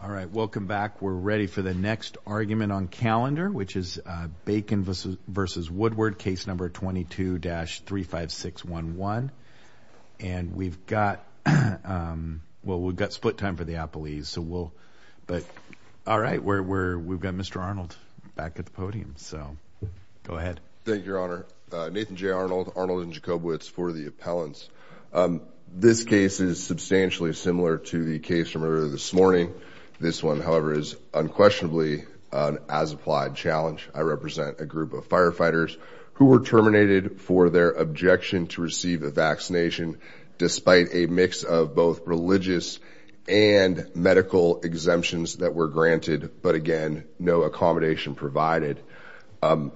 All right, welcome back. We're ready for the next argument on calendar, which is Bacon v. Woodward, case number 22-35611. And we've got split time for the appellees. All right, we've got Mr. Arnold back at the podium, so go ahead. Thank you, Your Honor. Nathan J. Arnold, Arnold and Jacobowitz for the appellants. This case is substantially similar to the case from earlier this morning. This one, however, is unquestionably an as-applied challenge. I represent a group of firefighters who were terminated for their objection to receive a vaccination, despite a mix of both religious and medical exemptions that were granted, but, again, no accommodation provided. Can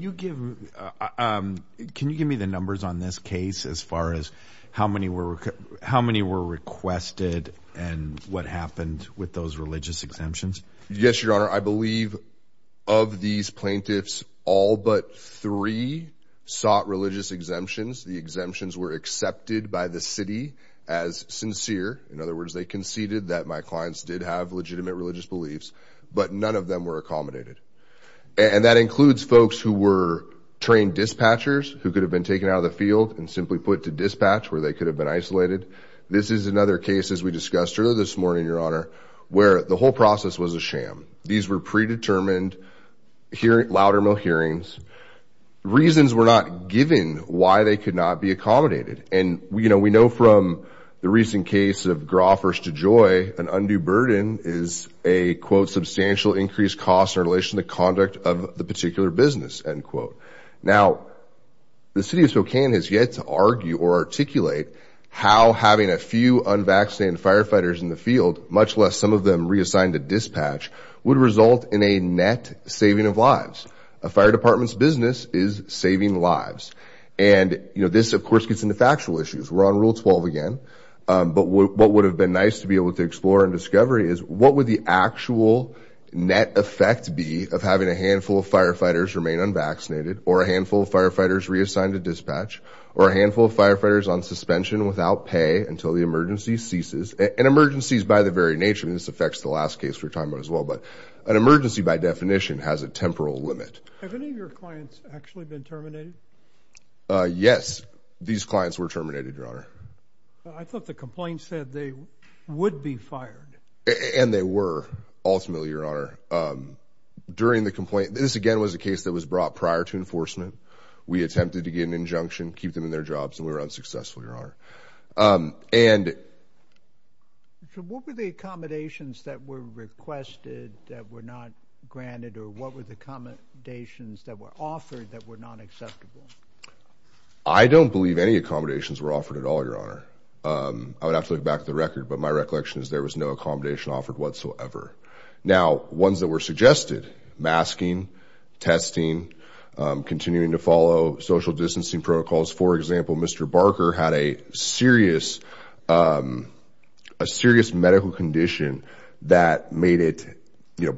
you give me the numbers on this case as far as how many were requested and what happened with those religious exemptions? Yes, Your Honor. I believe of these plaintiffs, all but three sought religious exemptions. The exemptions were accepted by the city as sincere. In other words, they conceded that my clients did have legitimate religious beliefs, but none of them were accommodated. And that includes folks who were trained dispatchers who could have been taken out of the field and simply put to dispatch where they could have been isolated. This is another case, as we discussed earlier this morning, Your Honor, where the whole process was a sham. These were predetermined louder-mail hearings. Reasons were not given why they could not be accommodated. And, you know, we know from the recent case of Groffers to Joy, an undue burden is a, quote, substantial increased cost in relation to conduct of the particular business, end quote. Now, the city of Spokane has yet to argue or articulate how having a few unvaccinated firefighters in the field, much less some of them reassigned to dispatch, would result in a net saving of lives. A fire department's business is saving lives. And, you know, this, of course, gets into factual issues. We're on Rule 12 again. But what would have been nice to be able to explore and discover is, what would the actual net effect be of having a handful of firefighters remain unvaccinated or a handful of firefighters reassigned to dispatch or a handful of firefighters on suspension without pay until the emergency ceases? And emergencies by the very nature, and this affects the last case we're talking about as well, but an emergency, by definition, has a temporal limit. Have any of your clients actually been terminated? Yes. These clients were terminated, Your Honor. I thought the complaint said they would be fired. And they were, ultimately, Your Honor. During the complaint, this, again, was a case that was brought prior to enforcement. We attempted to get an injunction, keep them in their jobs, and we were unsuccessful, Your Honor. And... So what were the accommodations that were requested that were not granted, or what were the accommodations that were offered that were not acceptable? I don't believe any accommodations were offered at all, Your Honor. I would have to look back at the record, but my recollection is there was no accommodation offered whatsoever. Now, ones that were suggested, masking, testing, continuing to follow social distancing protocols. For example, Mr. Barker had a serious medical condition that made it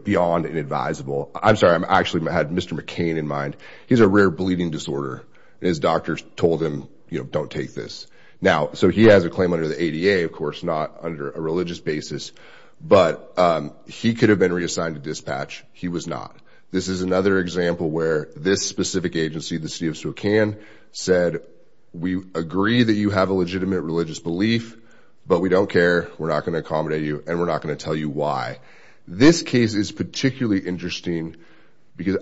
beyond inadvisable. I'm sorry. I actually had Mr. McCain in mind. He has a rare bleeding disorder, and his doctors told him, you know, don't take this. Now, so he has a claim under the ADA, of course, not under a religious basis, but he could have been reassigned to dispatch. He was not. This is another example where this specific agency, the city of Spokane, said, we agree that you have a legitimate religious belief, but we don't care. We're not going to accommodate you, and we're not going to tell you why. This case is particularly interesting because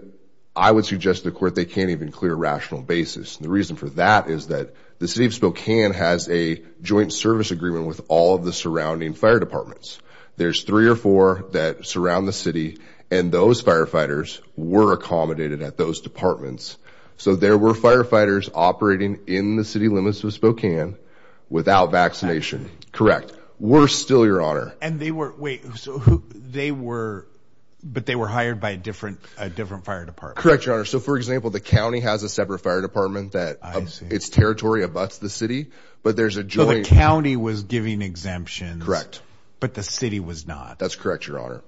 I would suggest to the court they can't even clear a rational basis. The reason for that is that the city of Spokane has a joint service agreement with all of the surrounding fire departments. There's three or four that surround the city, and those firefighters were accommodated at those departments. So there were firefighters operating in the city limits of Spokane without vaccination. Correct. We're still, Your Honor. And they were, wait, so they were, but they were hired by a different fire department. Correct, Your Honor. So, for example, the county has a separate fire department that its territory abuts the city, but there's a joint. So the county was giving exemptions. Correct. But the city was not. That's correct, Your Honor.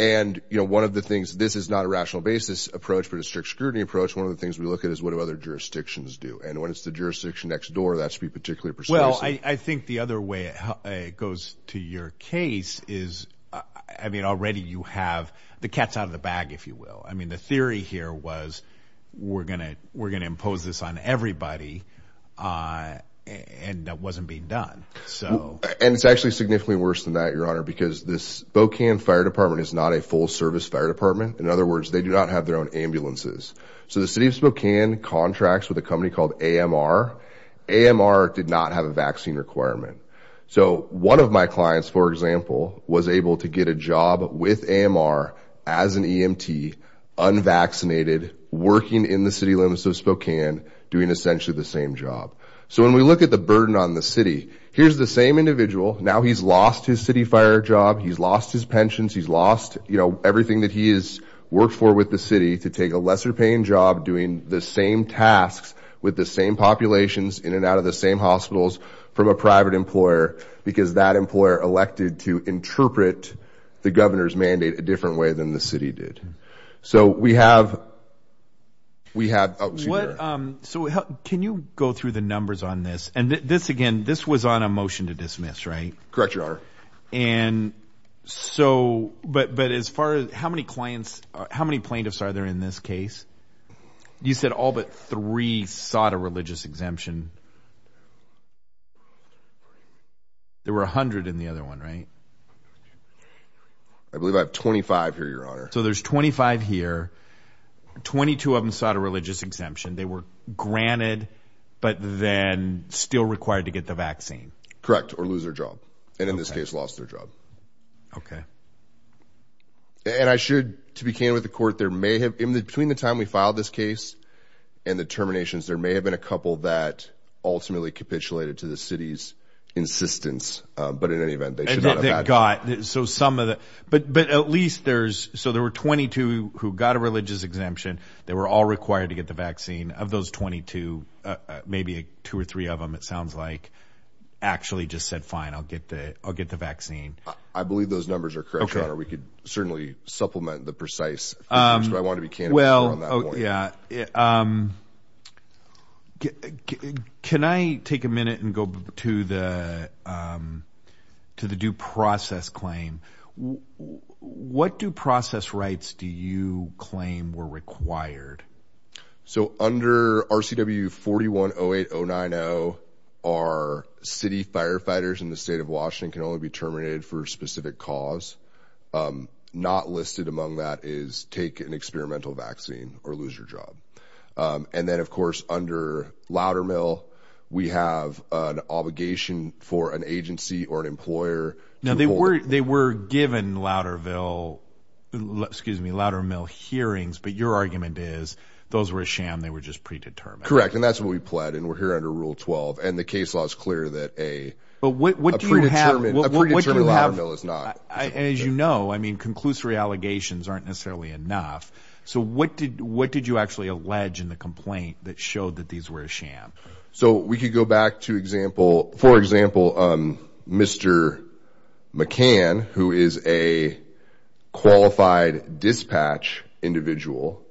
And, you know, one of the things, this is not a rational basis approach, but a strict scrutiny approach, one of the things we look at is what do other jurisdictions do? And when it's the jurisdiction next door, that should be particularly persuasive. Well, I think the other way it goes to your case is, I mean, already you have the cat's out of the bag, if you will. I mean, the theory here was we're going to impose this on everybody, and that wasn't being done. And it's actually significantly worse than that, Your Honor, because the Spokane Fire Department is not a full-service fire department. In other words, they do not have their own ambulances. So the city of Spokane contracts with a company called AMR. AMR did not have a vaccine requirement. So one of my clients, for example, was able to get a job with AMR as an EMT, unvaccinated, working in the city limits of Spokane, doing essentially the same job. So when we look at the burden on the city, here's the same individual. Now he's lost his city fire job. He's lost his pensions. He's lost, you know, everything that he has worked for with the city to take a lesser-paying job doing the same tasks with the same populations in and out of the same hospitals from a private employer, because that employer elected to interpret the governor's mandate a different way than the city did. So we have – oh, excuse me. So can you go through the numbers on this? And this, again, this was on a motion to dismiss, right? Correct, Your Honor. And so – but as far as – how many clients – how many plaintiffs are there in this case? You said all but three sought a religious exemption. There were 100 in the other one, right? I believe I have 25 here, Your Honor. So there's 25 here. Twenty-two of them sought a religious exemption. They were granted but then still required to get the vaccine. Correct, or lose their job, and in this case lost their job. Okay. And I should, to be clear with the court, there may have – between the time we filed this case and the terminations, there may have been a couple that ultimately capitulated to the city's insistence. But in any event, they should not have had to. They got – so some of the – but at least there's – so there were 22 who got a religious exemption. They were all required to get the vaccine. Of those 22, maybe two or three of them, it sounds like, actually just said, fine, I'll get the vaccine. I believe those numbers are correct, Your Honor. We could certainly supplement the precise figures, but I want to be candid on that one. Yeah. Can I take a minute and go to the due process claim? What due process rights do you claim were required? So under RCW 4108090, our city firefighters in the state of Washington can only be terminated for a specific cause. Not listed among that is take an experimental vaccine or lose your job. And then, of course, under Loudermill, we have an obligation for an agency or an employer. Now, they were given Loudermill hearings, but your argument is those were a sham. They were just predetermined. Correct, and that's what we pled, and we're here under Rule 12. And the case law is clear that a predetermined Loudermill is not. As you know, I mean, conclusory allegations aren't necessarily enough. So what did what did you actually allege in the complaint that showed that these were a sham? So we could go back to example. For example, Mr. McCann, who is a qualified dispatch individual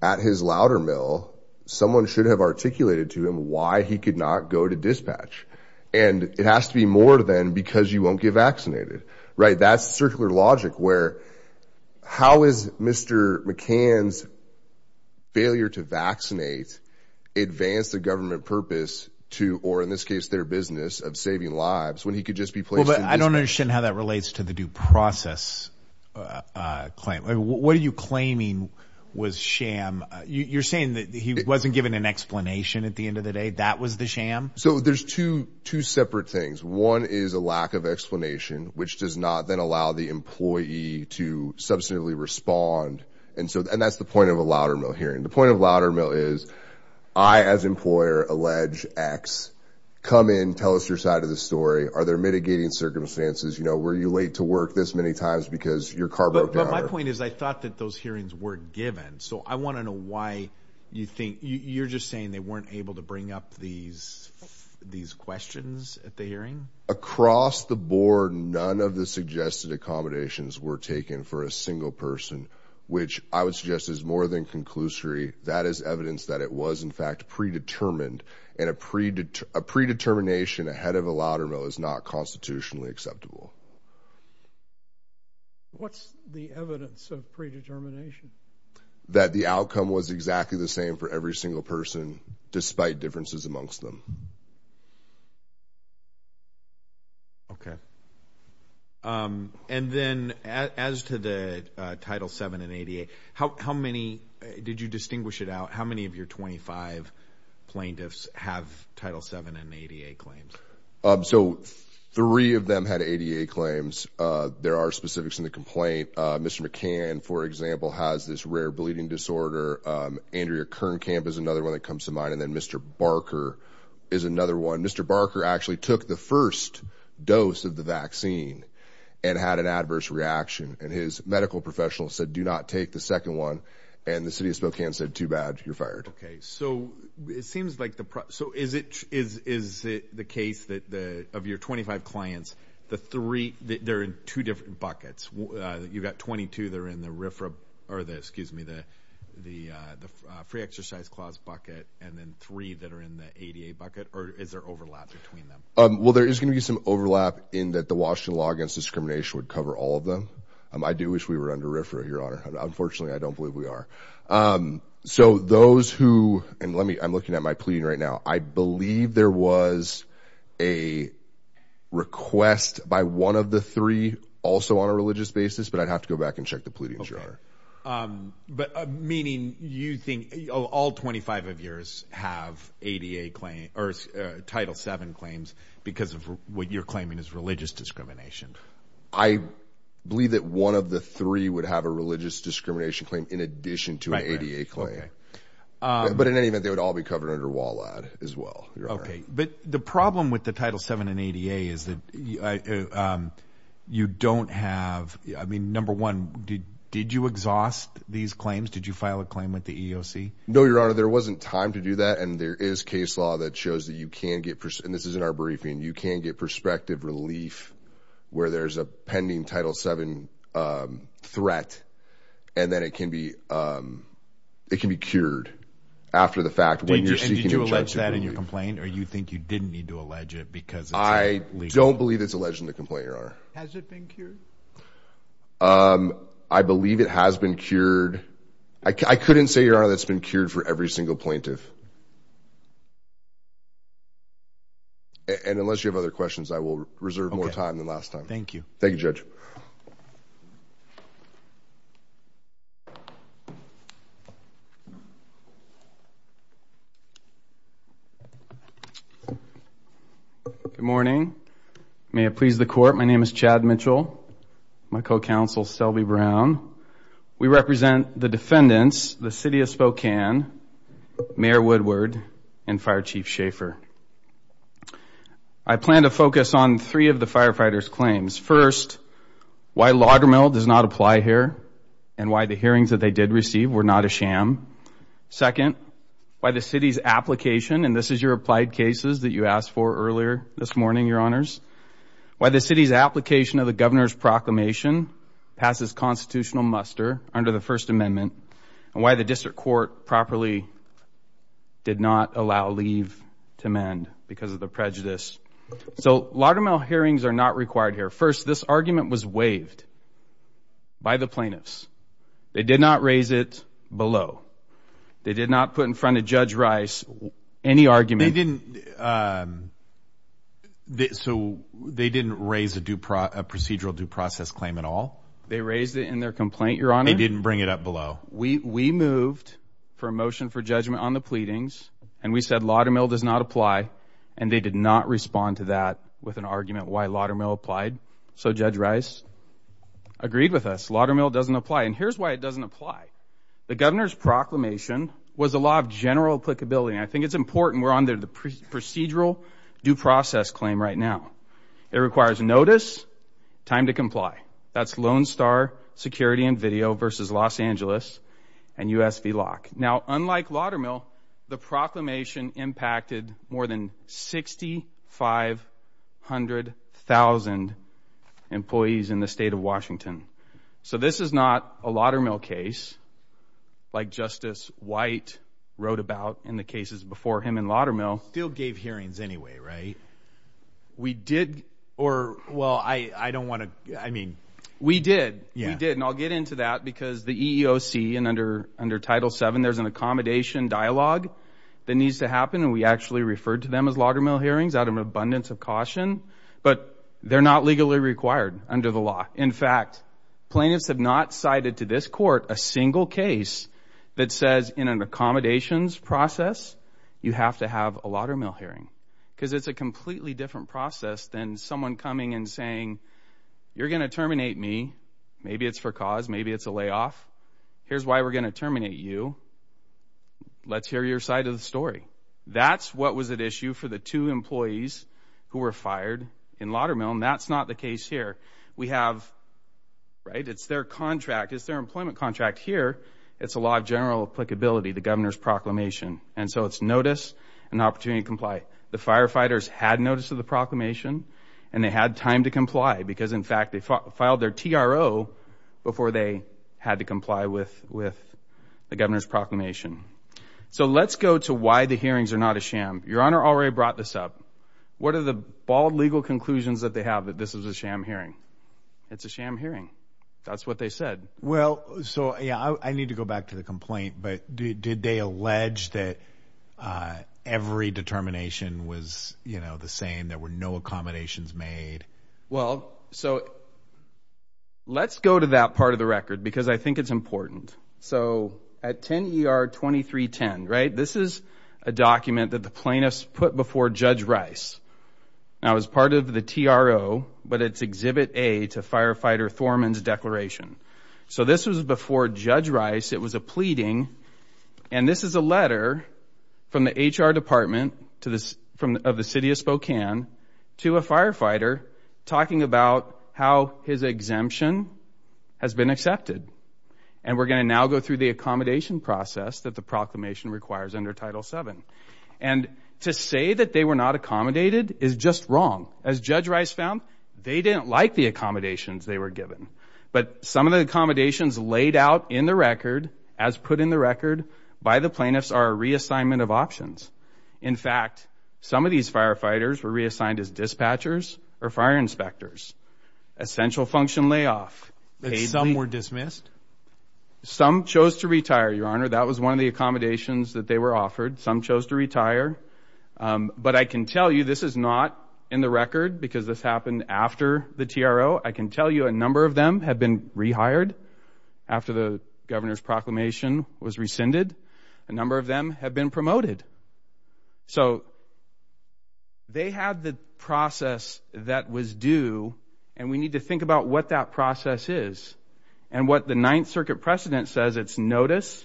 at his Loudermill, someone should have articulated to him why he could not go to dispatch. And it has to be more than because you won't get vaccinated. Right. That's circular logic where how is Mr. McCann's failure to vaccinate advance the government purpose to or in this case their business of saving lives when he could just be. But I don't understand how that relates to the due process claim. What are you claiming was sham? You're saying that he wasn't given an explanation at the end of the day. That was the sham. So there's two two separate things. One is a lack of explanation, which does not then allow the employee to substantively respond. And so and that's the point of a Loudermill hearing. The point of Loudermill is I, as employer, allege X. Come in, tell us your side of the story. Are there mitigating circumstances? You know, were you late to work this many times because your car broke down? My point is, I thought that those hearings were given. So I want to know why you think you're just saying they weren't able to bring up these these questions at the hearing across the board. None of the suggested accommodations were taken for a single person, which I would suggest is more than conclusory. That is evidence that it was, in fact, predetermined. And a predetermination ahead of a Loudermill is not constitutionally acceptable. What's the evidence of predetermination? That the outcome was exactly the same for every single person, despite differences amongst them. OK. And then as to the Title seven and 88, how many did you distinguish it out? How many of your 25 plaintiffs have Title seven and 88 claims? So three of them had 88 claims. There are specifics in the complaint. Mr. McCann, for example, has this rare bleeding disorder. Andrea Kern Camp is another one that comes to mind. And then Mr. Barker is another one. Mr. Barker actually took the first dose of the vaccine and had an adverse reaction. And his medical professional said, do not take the second one. And the city of Spokane said too bad. You're fired. OK, so it seems like the. So is it is is it the case that the of your 25 clients, the three that they're in two different buckets? You've got 22 there in the RFRA or the excuse me, the the the free exercise clause bucket. And then three that are in the 88 bucket. Or is there overlap between them? Well, there is going to be some overlap in that. The Washington law against discrimination would cover all of them. I do wish we were under RFRA, Your Honor. Unfortunately, I don't believe we are. So those who and let me I'm looking at my pleading right now. I believe there was a request by one of the three also on a religious basis. But I'd have to go back and check the pleading, Your Honor. But meaning you think all 25 of yours have 88 claim or Title seven claims because of what you're claiming is religious discrimination. I believe that one of the three would have a religious discrimination claim in addition to an 88 claim. But in any event, they would all be covered under WALAD as well. But the problem with the Title seven and 88 is that you don't have. I mean, number one, did did you exhaust these claims? Did you file a claim with the EOC? No, Your Honor. There wasn't time to do that. And there is case law that shows that you can get. And this is in our briefing. You can get prospective relief where there's a pending Title seven threat. And then it can be. It can be cured after the fact. Did you let that in your complaint? Or you think you didn't need to allege it because I don't believe it's alleged in the complaint. Your Honor, has it been cured? I believe it has been cured. I couldn't say, Your Honor, that's been cured for every single plaintiff. And unless you have other questions, I will reserve more time than last time. Thank you. Thank you, Judge. Thank you. Good morning. May it please the Court, my name is Chad Mitchell. My co-counsel is Selby Brown. We represent the defendants, the City of Spokane, Mayor Woodward, and Fire Chief Schaefer. First, why Laudermill does not apply here and why the hearings that they did receive were not a sham. Second, why the City's application, and this is your applied cases that you asked for earlier this morning, Your Honors. Why the City's application of the Governor's proclamation passes constitutional muster under the First Amendment. And why the District Court properly did not allow leave to mend because of the prejudice. So, Laudermill hearings are not required here. First, this argument was waived by the plaintiffs. They did not raise it below. They did not put in front of Judge Rice any argument. They didn't raise a procedural due process claim at all? They raised it in their complaint, Your Honor. They didn't bring it up below? We moved for a motion for judgment on the pleadings, and we said Laudermill does not apply, and they did not respond to that with an argument why Laudermill applied. So, Judge Rice agreed with us. Laudermill doesn't apply, and here's why it doesn't apply. The Governor's proclamation was a law of general applicability, and I think it's important we're under the procedural due process claim right now. It requires notice, time to comply. That's Lone Star Security and Video v. Los Angeles and USV Lock. Now, unlike Laudermill, the proclamation impacted more than 6,500,000 employees in the state of Washington. So, this is not a Laudermill case like Justice White wrote about in the cases before him in Laudermill. Still gave hearings anyway, right? We did, or, well, I don't want to, I mean. We did. We did, and I'll get into that because the EEOC and under Title VII, there's an accommodation dialogue that needs to happen, and we actually referred to them as Laudermill hearings out of an abundance of caution, but they're not legally required under the law. In fact, plaintiffs have not cited to this court a single case that says in an accommodations process you have to have a Laudermill hearing because it's a completely different process than someone coming and saying, you're going to terminate me, maybe it's for cause, maybe it's a layoff. Here's why we're going to terminate you. Let's hear your side of the story. That's what was at issue for the two employees who were fired in Laudermill, and that's not the case here. We have, right, it's their contract. It's their employment contract here. It's a law of general applicability, the governor's proclamation, and so it's notice and opportunity to comply. The firefighters had notice of the proclamation, and they had time to comply because, in fact, they filed their TRO before they had to comply with the governor's proclamation. So let's go to why the hearings are not a sham. Your Honor already brought this up. What are the bald legal conclusions that they have that this is a sham hearing? It's a sham hearing. That's what they said. Well, so, yeah, I need to go back to the complaint, but did they allege that every determination was, you know, the same, there were no accommodations made? Well, so let's go to that part of the record because I think it's important. So at 10 ER 2310, right, this is a document that the plaintiffs put before Judge Rice. Now, it was part of the TRO, but it's Exhibit A to Firefighter Thorman's declaration. So this was before Judge Rice. It was a pleading, and this is a letter from the HR department of the city of Spokane to a firefighter talking about how his exemption has been accepted, and we're going to now go through the accommodation process that the proclamation requires under Title VII. And to say that they were not accommodated is just wrong. As Judge Rice found, they didn't like the accommodations they were given, but some of the accommodations laid out in the record as put in the record by the plaintiffs are a reassignment of options. In fact, some of these firefighters were reassigned as dispatchers or fire inspectors. Essential function layoff. But some were dismissed? Some chose to retire, Your Honor. That was one of the accommodations that they were offered. Some chose to retire. But I can tell you this is not in the record because this happened after the TRO. I can tell you a number of them have been rehired after the governor's proclamation was rescinded. A number of them have been promoted. So they had the process that was due, and we need to think about what that process is and what the Ninth Circuit precedent says it's notice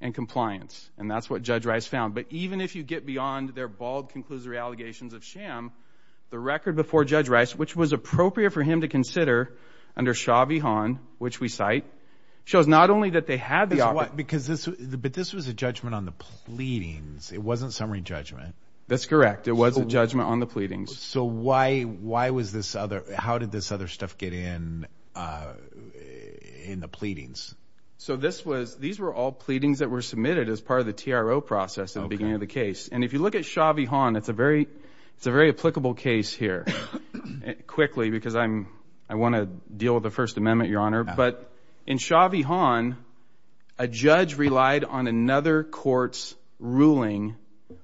and compliance, and that's what Judge Rice found. But even if you get beyond their bald, conclusory allegations of sham, the record before Judge Rice, which was appropriate for him to consider under Shabby Hawn, which we cite, shows not only that they had the option. But this was a judgment on the pleadings. It wasn't summary judgment. That's correct. It was a judgment on the pleadings. So why was this other? How did this other stuff get in in the pleadings? So these were all pleadings that were submitted as part of the TRO process at the beginning of the case. And if you look at Shabby Hawn, it's a very applicable case here, quickly because I want to deal with the First Amendment, Your Honor. But in Shabby Hawn, a judge relied on another court's ruling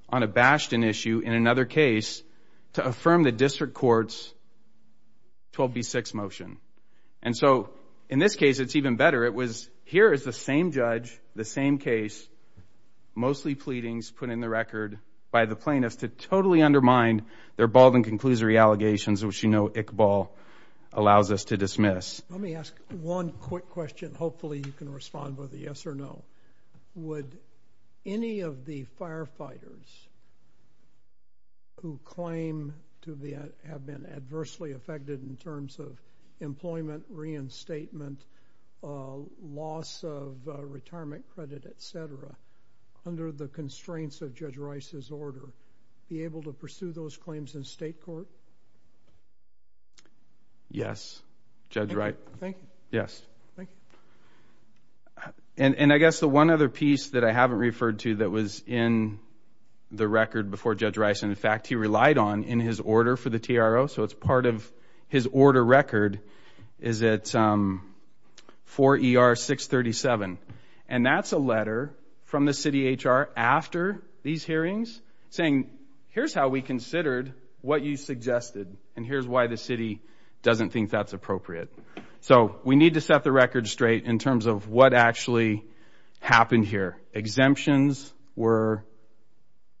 on a Bashton issue in another case to affirm the district court's 12B6 motion. And so in this case, it's even better. It was here is the same judge, the same case, mostly pleadings, put in the record by the plaintiffs to totally undermine their bald and conclusory allegations, which you know Iqbal allows us to dismiss. Let me ask one quick question. Hopefully you can respond with a yes or no. Would any of the firefighters who claim to have been adversely affected in terms of employment, reinstatement, loss of retirement credit, et cetera, under the constraints of Judge Rice's order, be able to pursue those claims in state court? Yes, Judge Wright. Thank you. Yes. Thank you. And I guess the one other piece that I haven't referred to that was in the record before Judge Rice, and in fact he relied on in his order for the TRO, so it's part of his order record, is that 4ER637. And that's a letter from the city HR after these hearings saying, here's how we considered what you suggested, and here's why the city doesn't think that's appropriate. So we need to set the record straight in terms of what actually happened here. Exemptions were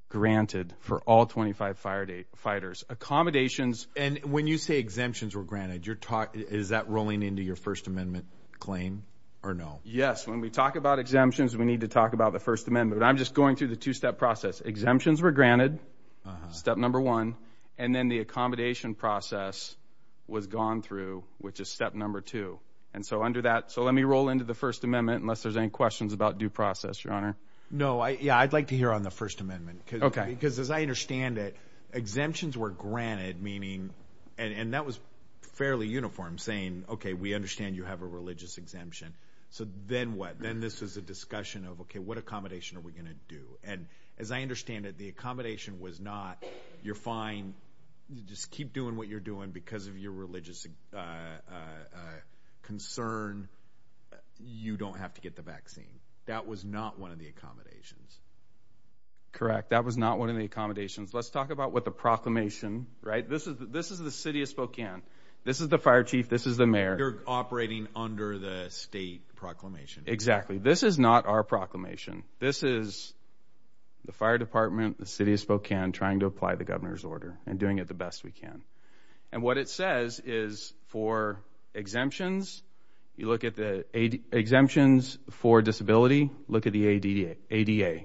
granted for all 25 firefighters. And when you say exemptions were granted, is that rolling into your First Amendment claim or no? Yes. When we talk about exemptions, we need to talk about the First Amendment. I'm just going through the two-step process. Exemptions were granted, step number one, and then the accommodation process was gone through, which is step number two. And so under that, so let me roll into the First Amendment unless there's any questions about due process, Your Honor. No. Yeah, I'd like to hear on the First Amendment. Okay. Because as I understand it, exemptions were granted, meaning, and that was fairly uniform, saying, okay, we understand you have a religious exemption, so then what? Then this was a discussion of, okay, what accommodation are we going to do? And as I understand it, the accommodation was not, you're fine, just keep doing what you're doing because of your religious concern, you don't have to get the vaccine. That was not one of the accommodations. Correct. That was not one of the accommodations. Let's talk about what the proclamation, right? This is the city of Spokane. This is the fire chief. This is the mayor. You're operating under the state proclamation. Exactly. This is not our proclamation. This is the fire department, the city of Spokane, trying to apply the governor's order and doing it the best we can. And what it says is for exemptions, you look at the exemptions for disability, look at the ADA,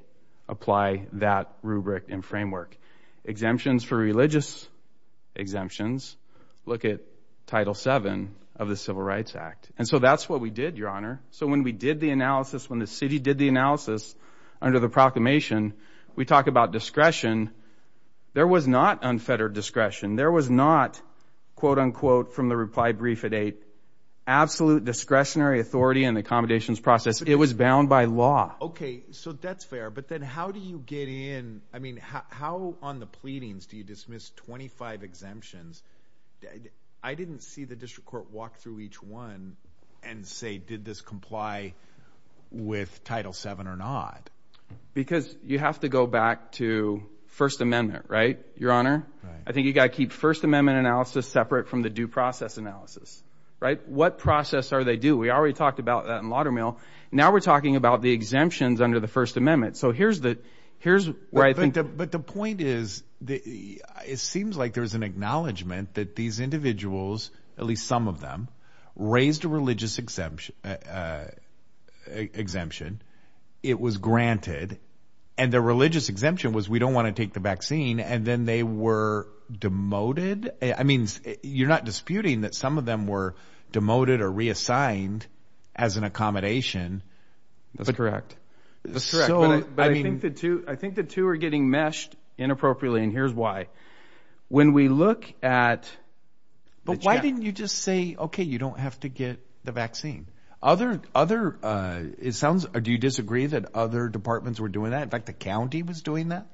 apply that rubric and framework. Exemptions for religious exemptions, look at Title VII of the Civil Rights Act. And so that's what we did, Your Honor. So when we did the analysis, when the city did the analysis under the proclamation, we talked about discretion. There was not unfettered discretion. There was not, quote, unquote, from the reply brief at 8, absolute discretionary authority in the accommodations process. It was bound by law. Okay. So that's fair. But then how do you get in? I mean, how on the pleadings do you dismiss 25 exemptions? I didn't see the district court walk through each one and say, did this comply with Title VII or not. Because you have to go back to First Amendment, right, Your Honor? I think you've got to keep First Amendment analysis separate from the due process analysis, right? What process are they due? We already talked about that in Laudermill. Now we're talking about the exemptions under the First Amendment. So here's where I think the point is, it seems like there's an acknowledgement that these individuals, at least some of them, raised a religious exemption. It was granted. And the religious exemption was we don't want to take the vaccine. And then they were demoted. Demoted? I mean, you're not disputing that some of them were demoted or reassigned as an accommodation. That's correct. That's correct. But I think the two are getting meshed inappropriately, and here's why. When we look at the check. But why didn't you just say, okay, you don't have to get the vaccine? Other, it sounds, do you disagree that other departments were doing that? In fact, the county was doing that?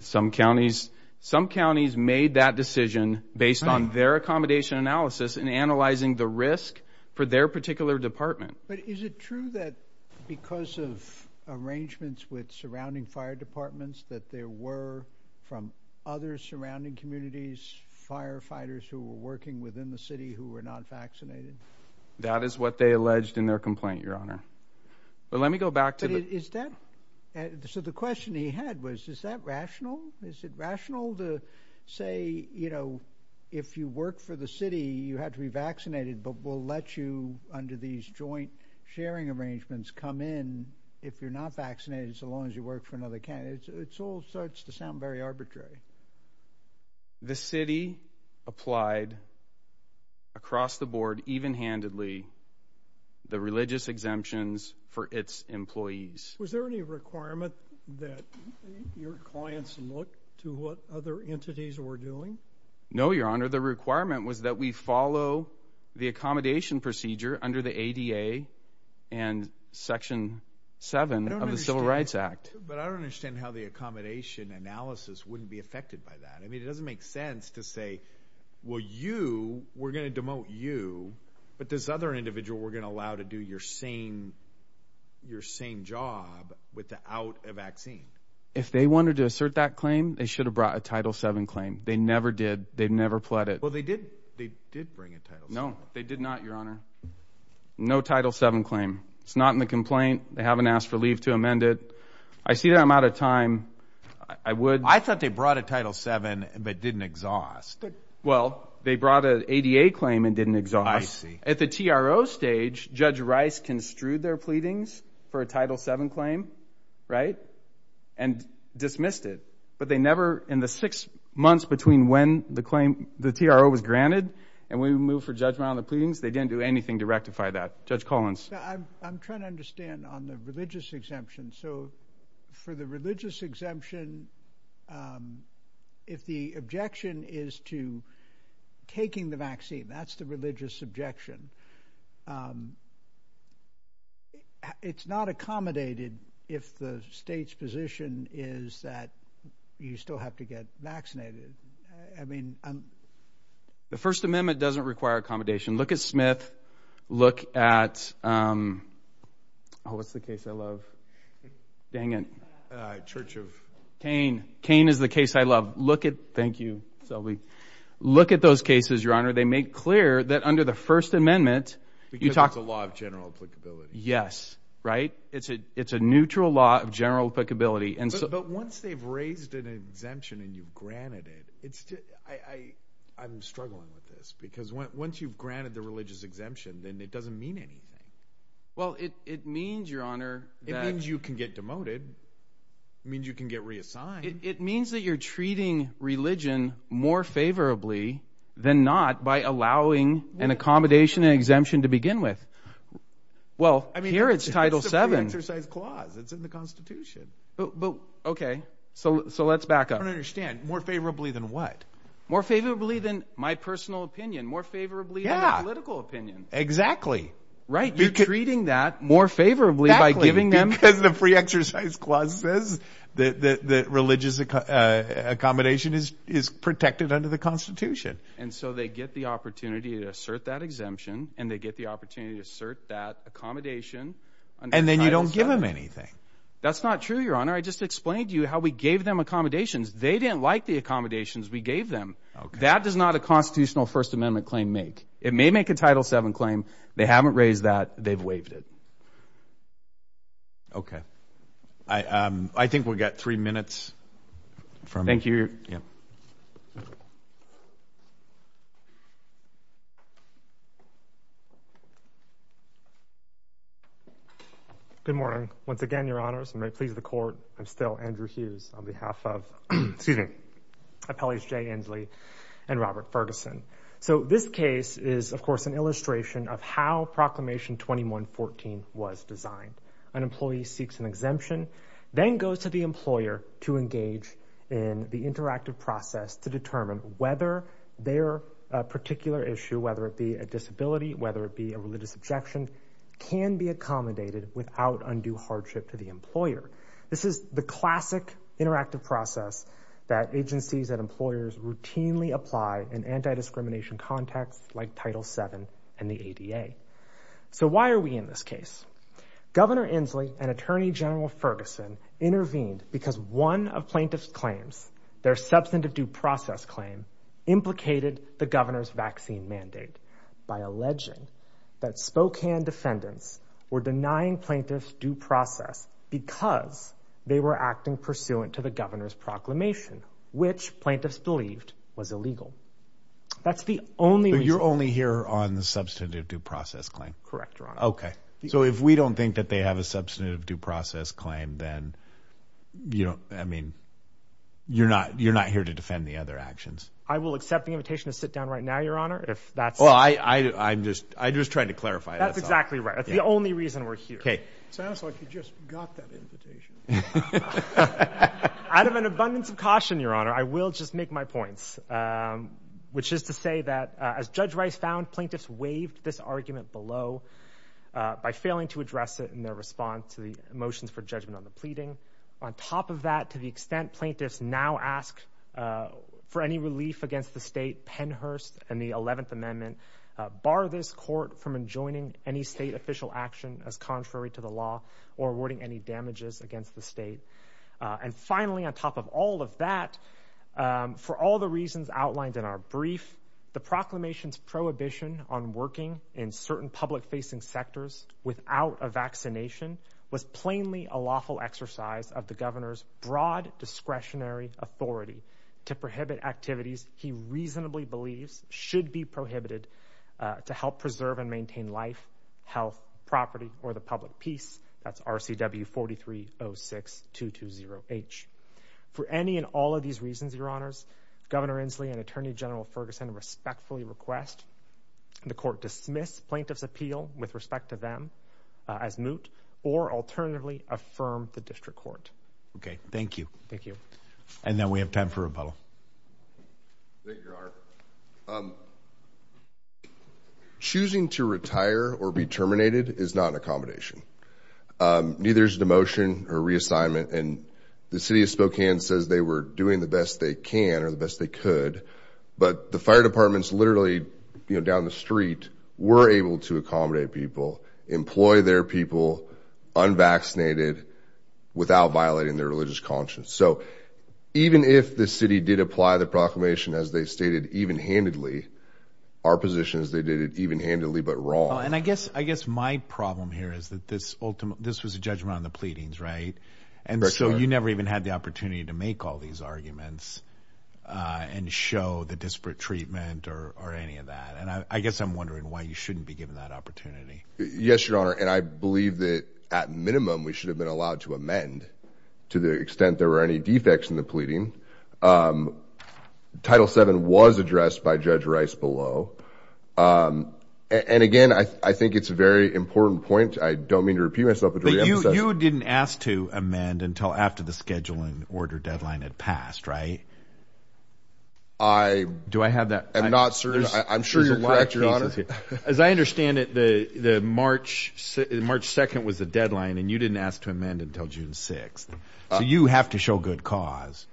Some counties made that decision based on their accommodation analysis and analyzing the risk for their particular department. But is it true that because of arrangements with surrounding fire departments that there were, from other surrounding communities, firefighters who were working within the city who were not vaccinated? That is what they alleged in their complaint, Your Honor. Well, let me go back to that. So the question he had was, is that rational? Is it rational to say, you know, if you work for the city, you have to be vaccinated, but we'll let you under these joint sharing arrangements come in if you're not vaccinated so long as you work for another county. It all starts to sound very arbitrary. The city applied across the board, even-handedly, the religious exemptions for its employees. Was there any requirement that your clients look to what other entities were doing? No, Your Honor. The requirement was that we follow the accommodation procedure under the ADA and Section 7 of the Civil Rights Act. But I don't understand how the accommodation analysis wouldn't be affected by that. I mean, it doesn't make sense to say, well, you, we're going to demote you, but this other individual we're going to allow to do your same job without a vaccine. If they wanted to assert that claim, they should have brought a Title 7 claim. They never did. They never pled it. Well, they did bring a Title 7 claim. No, they did not, Your Honor. No Title 7 claim. It's not in the complaint. They haven't asked for leave to amend it. I see that I'm out of time. I would. I thought they brought a Title 7 but didn't exhaust. Well, they brought an ADA claim and didn't exhaust. I see. At the TRO stage, Judge Rice construed their pleadings for a Title 7 claim, right, and dismissed it. But they never, in the six months between when the claim, the TRO was granted and we moved for judgment on the pleadings, they didn't do anything to rectify that. Judge Collins. I'm trying to understand on the religious exemption. So for the religious exemption, if the objection is to taking the vaccine, that's the religious objection. It's not accommodated if the state's position is that you still have to get vaccinated. I mean, I'm. The First Amendment doesn't require accommodation. Look at Smith. Look at, oh, what's the case I love? Dang it. Church of. Cain. Cain is the case I love. Look at. Thank you, Selby. Look at those cases, Your Honor. They make clear that under the First Amendment. Because it's a law of general applicability. Yes. Right? It's a neutral law of general applicability. But once they've raised an exemption and you've granted it, I'm struggling with this. Because once you've granted the religious exemption, then it doesn't mean anything. Well, it means, Your Honor. It means you can get demoted. It means you can get reassigned. It means that you're treating religion more favorably than not by allowing an accommodation and exemption to begin with. Well, here it's Title VII. It's a pre-exercise clause. It's in the Constitution. Okay. So let's back up. I don't understand. More favorably than what? More favorably than my personal opinion. More favorably than the political opinion. Yeah. Exactly. Right. You're treating that more favorably by giving them. Exactly. Because the pre-exercise clause says that religious accommodation is protected under the Constitution. And so they get the opportunity to assert that exemption and they get the opportunity to assert that accommodation under Title VII. And then you don't give them anything. That's not true, Your Honor. I just explained to you how we gave them accommodations. They didn't like the accommodations. We gave them. That does not a constitutional First Amendment claim make. It may make a Title VII claim. They haven't raised that. They've waived it. Okay. I think we've got three minutes. Thank you. Good morning. Once again, Your Honors, and may it please the Court, I'm still Andrew Hughes on behalf of, excuse me, appellees Jay Inslee and Robert Ferguson. So this case is, of course, an illustration of how Proclamation 2114 was designed. An employee seeks an exemption, then goes to the employer to engage in the interactive process to determine whether their particular issue, whether it be a disability, whether it be a religious objection, can be accommodated without undue hardship to the employer. This is the classic interactive process that agencies and employers routinely apply in anti-discrimination contexts like Title VII and the ADA. So why are we in this case? Governor Inslee and Attorney General Ferguson intervened because one of plaintiff's claims, their substantive due process claim, implicated the governor's vaccine mandate by alleging that Spokane defendants were denying plaintiffs due process because they were acting pursuant to the governor's proclamation, which plaintiffs believed was illegal. That's the only reason. So you're only here on the substantive due process claim? Correct, Your Honor. Okay. So if we don't think that they have a substantive due process claim, then you don't, I mean, you're not here to defend the other actions? I will accept the invitation to sit down right now, Your Honor, if that's... Well, I'm just trying to clarify that. That's exactly right. That's the only reason we're here. Okay. Sounds like you just got that invitation. Out of an abundance of caution, Your Honor, I will just make my points, which is to say that as Judge Rice found, plaintiffs waived this argument below by failing to address it in their response to the motions for judgment on the pleading. On top of that, to the extent plaintiffs now ask for any relief against the state, Pennhurst and the 11th Amendment bar this court from enjoining any state official action as contrary to the law or awarding any damages against the state. And finally, on top of all of that, for all the reasons outlined in our brief, the proclamation's prohibition on working in certain public-facing sectors without a vaccination was plainly a lawful exercise of the governor's broad discretionary authority to prohibit activities he reasonably believes should be prohibited to help preserve and maintain life, health, property, or the public peace. That's RCW 4306-220H. For any and all of these reasons, Your Honors, Governor Inslee and Attorney General Ferguson respectfully request the court dismiss plaintiff's appeal with respect to them as moot or alternatively affirm the district court. Okay. Thank you. Thank you. And now we have time for rebuttal. Thank you, Your Honor. Choosing to retire or be terminated is not an accommodation. Neither is demotion or reassignment. And the city of Spokane says they were doing the best they can or the best they could. But the fire departments literally, you know, down the street were able to accommodate people, employ their people unvaccinated without violating their religious conscience. So even if the city did apply the proclamation as they stated even-handedly, our position is they did it even-handedly but wrong. And I guess my problem here is that this was a judgment on the pleadings, right? And so you never even had the opportunity to make all these arguments and show the disparate treatment or any of that. And I guess I'm wondering why you shouldn't be given that opportunity. Yes, Your Honor. And I believe that at minimum we should have been allowed to amend to the extent there were any defects in the pleading. Title VII was addressed by Judge Rice below. And, again, I think it's a very important point. I don't mean to repeat myself but to reemphasize it. But you didn't ask to amend until after the scheduling order deadline had passed, right? I am not certain. I'm sure you're correct, Your Honor. As I understand it, March 2nd was the deadline and you didn't ask to amend until June 6th. So you have to show good cause.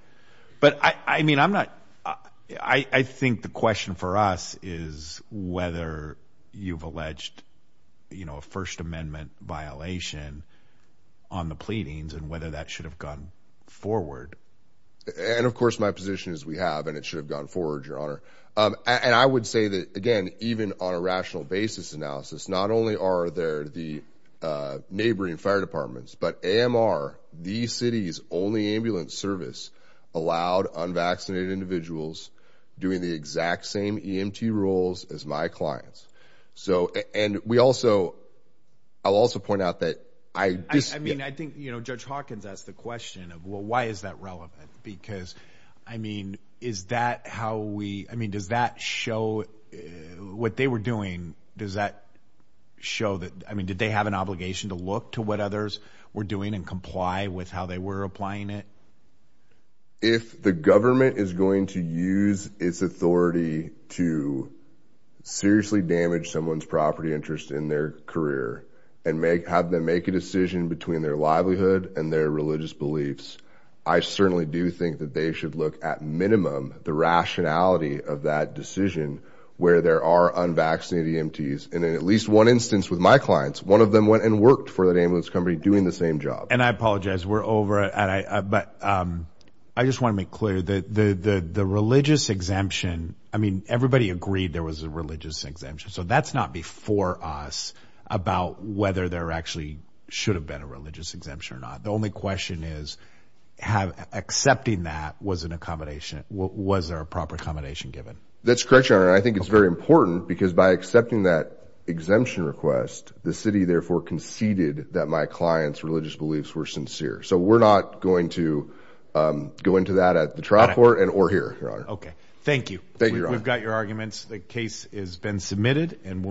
But, I mean, I'm not – I think the question for us is whether you've alleged a First Amendment violation on the pleadings and whether that should have gone forward. And, of course, my position is we have and it should have gone forward, Your Honor. And I would say that, again, even on a rational basis analysis, not only are there the neighboring fire departments but AMR, the city's only ambulance service, allowed unvaccinated individuals doing the exact same EMT roles as my clients. So – and we also – I'll also point out that I – I mean, does that show – what they were doing, does that show that – I mean, did they have an obligation to look to what others were doing and comply with how they were applying it? If the government is going to use its authority to seriously damage someone's property interest in their career and have them make a decision between their livelihood and their religious beliefs, I certainly do think that they should look at minimum the rationality of that decision where there are unvaccinated EMTs. And in at least one instance with my clients, one of them went and worked for that ambulance company doing the same job. And I apologize. We're over. But I just want to make clear that the religious exemption – I mean, everybody agreed there was a religious exemption. So that's not before us about whether there actually should have been a religious exemption or not. The only question is have – accepting that was an accommodation – was there a proper accommodation given? That's correct, Your Honor. And I think it's very important because by accepting that exemption request, the city therefore conceded that my clients' religious beliefs were sincere. So we're not going to go into that at the trial court and – or here, Your Honor. Okay. Thank you. Thank you, Your Honor. We've got your arguments. The case has been submitted.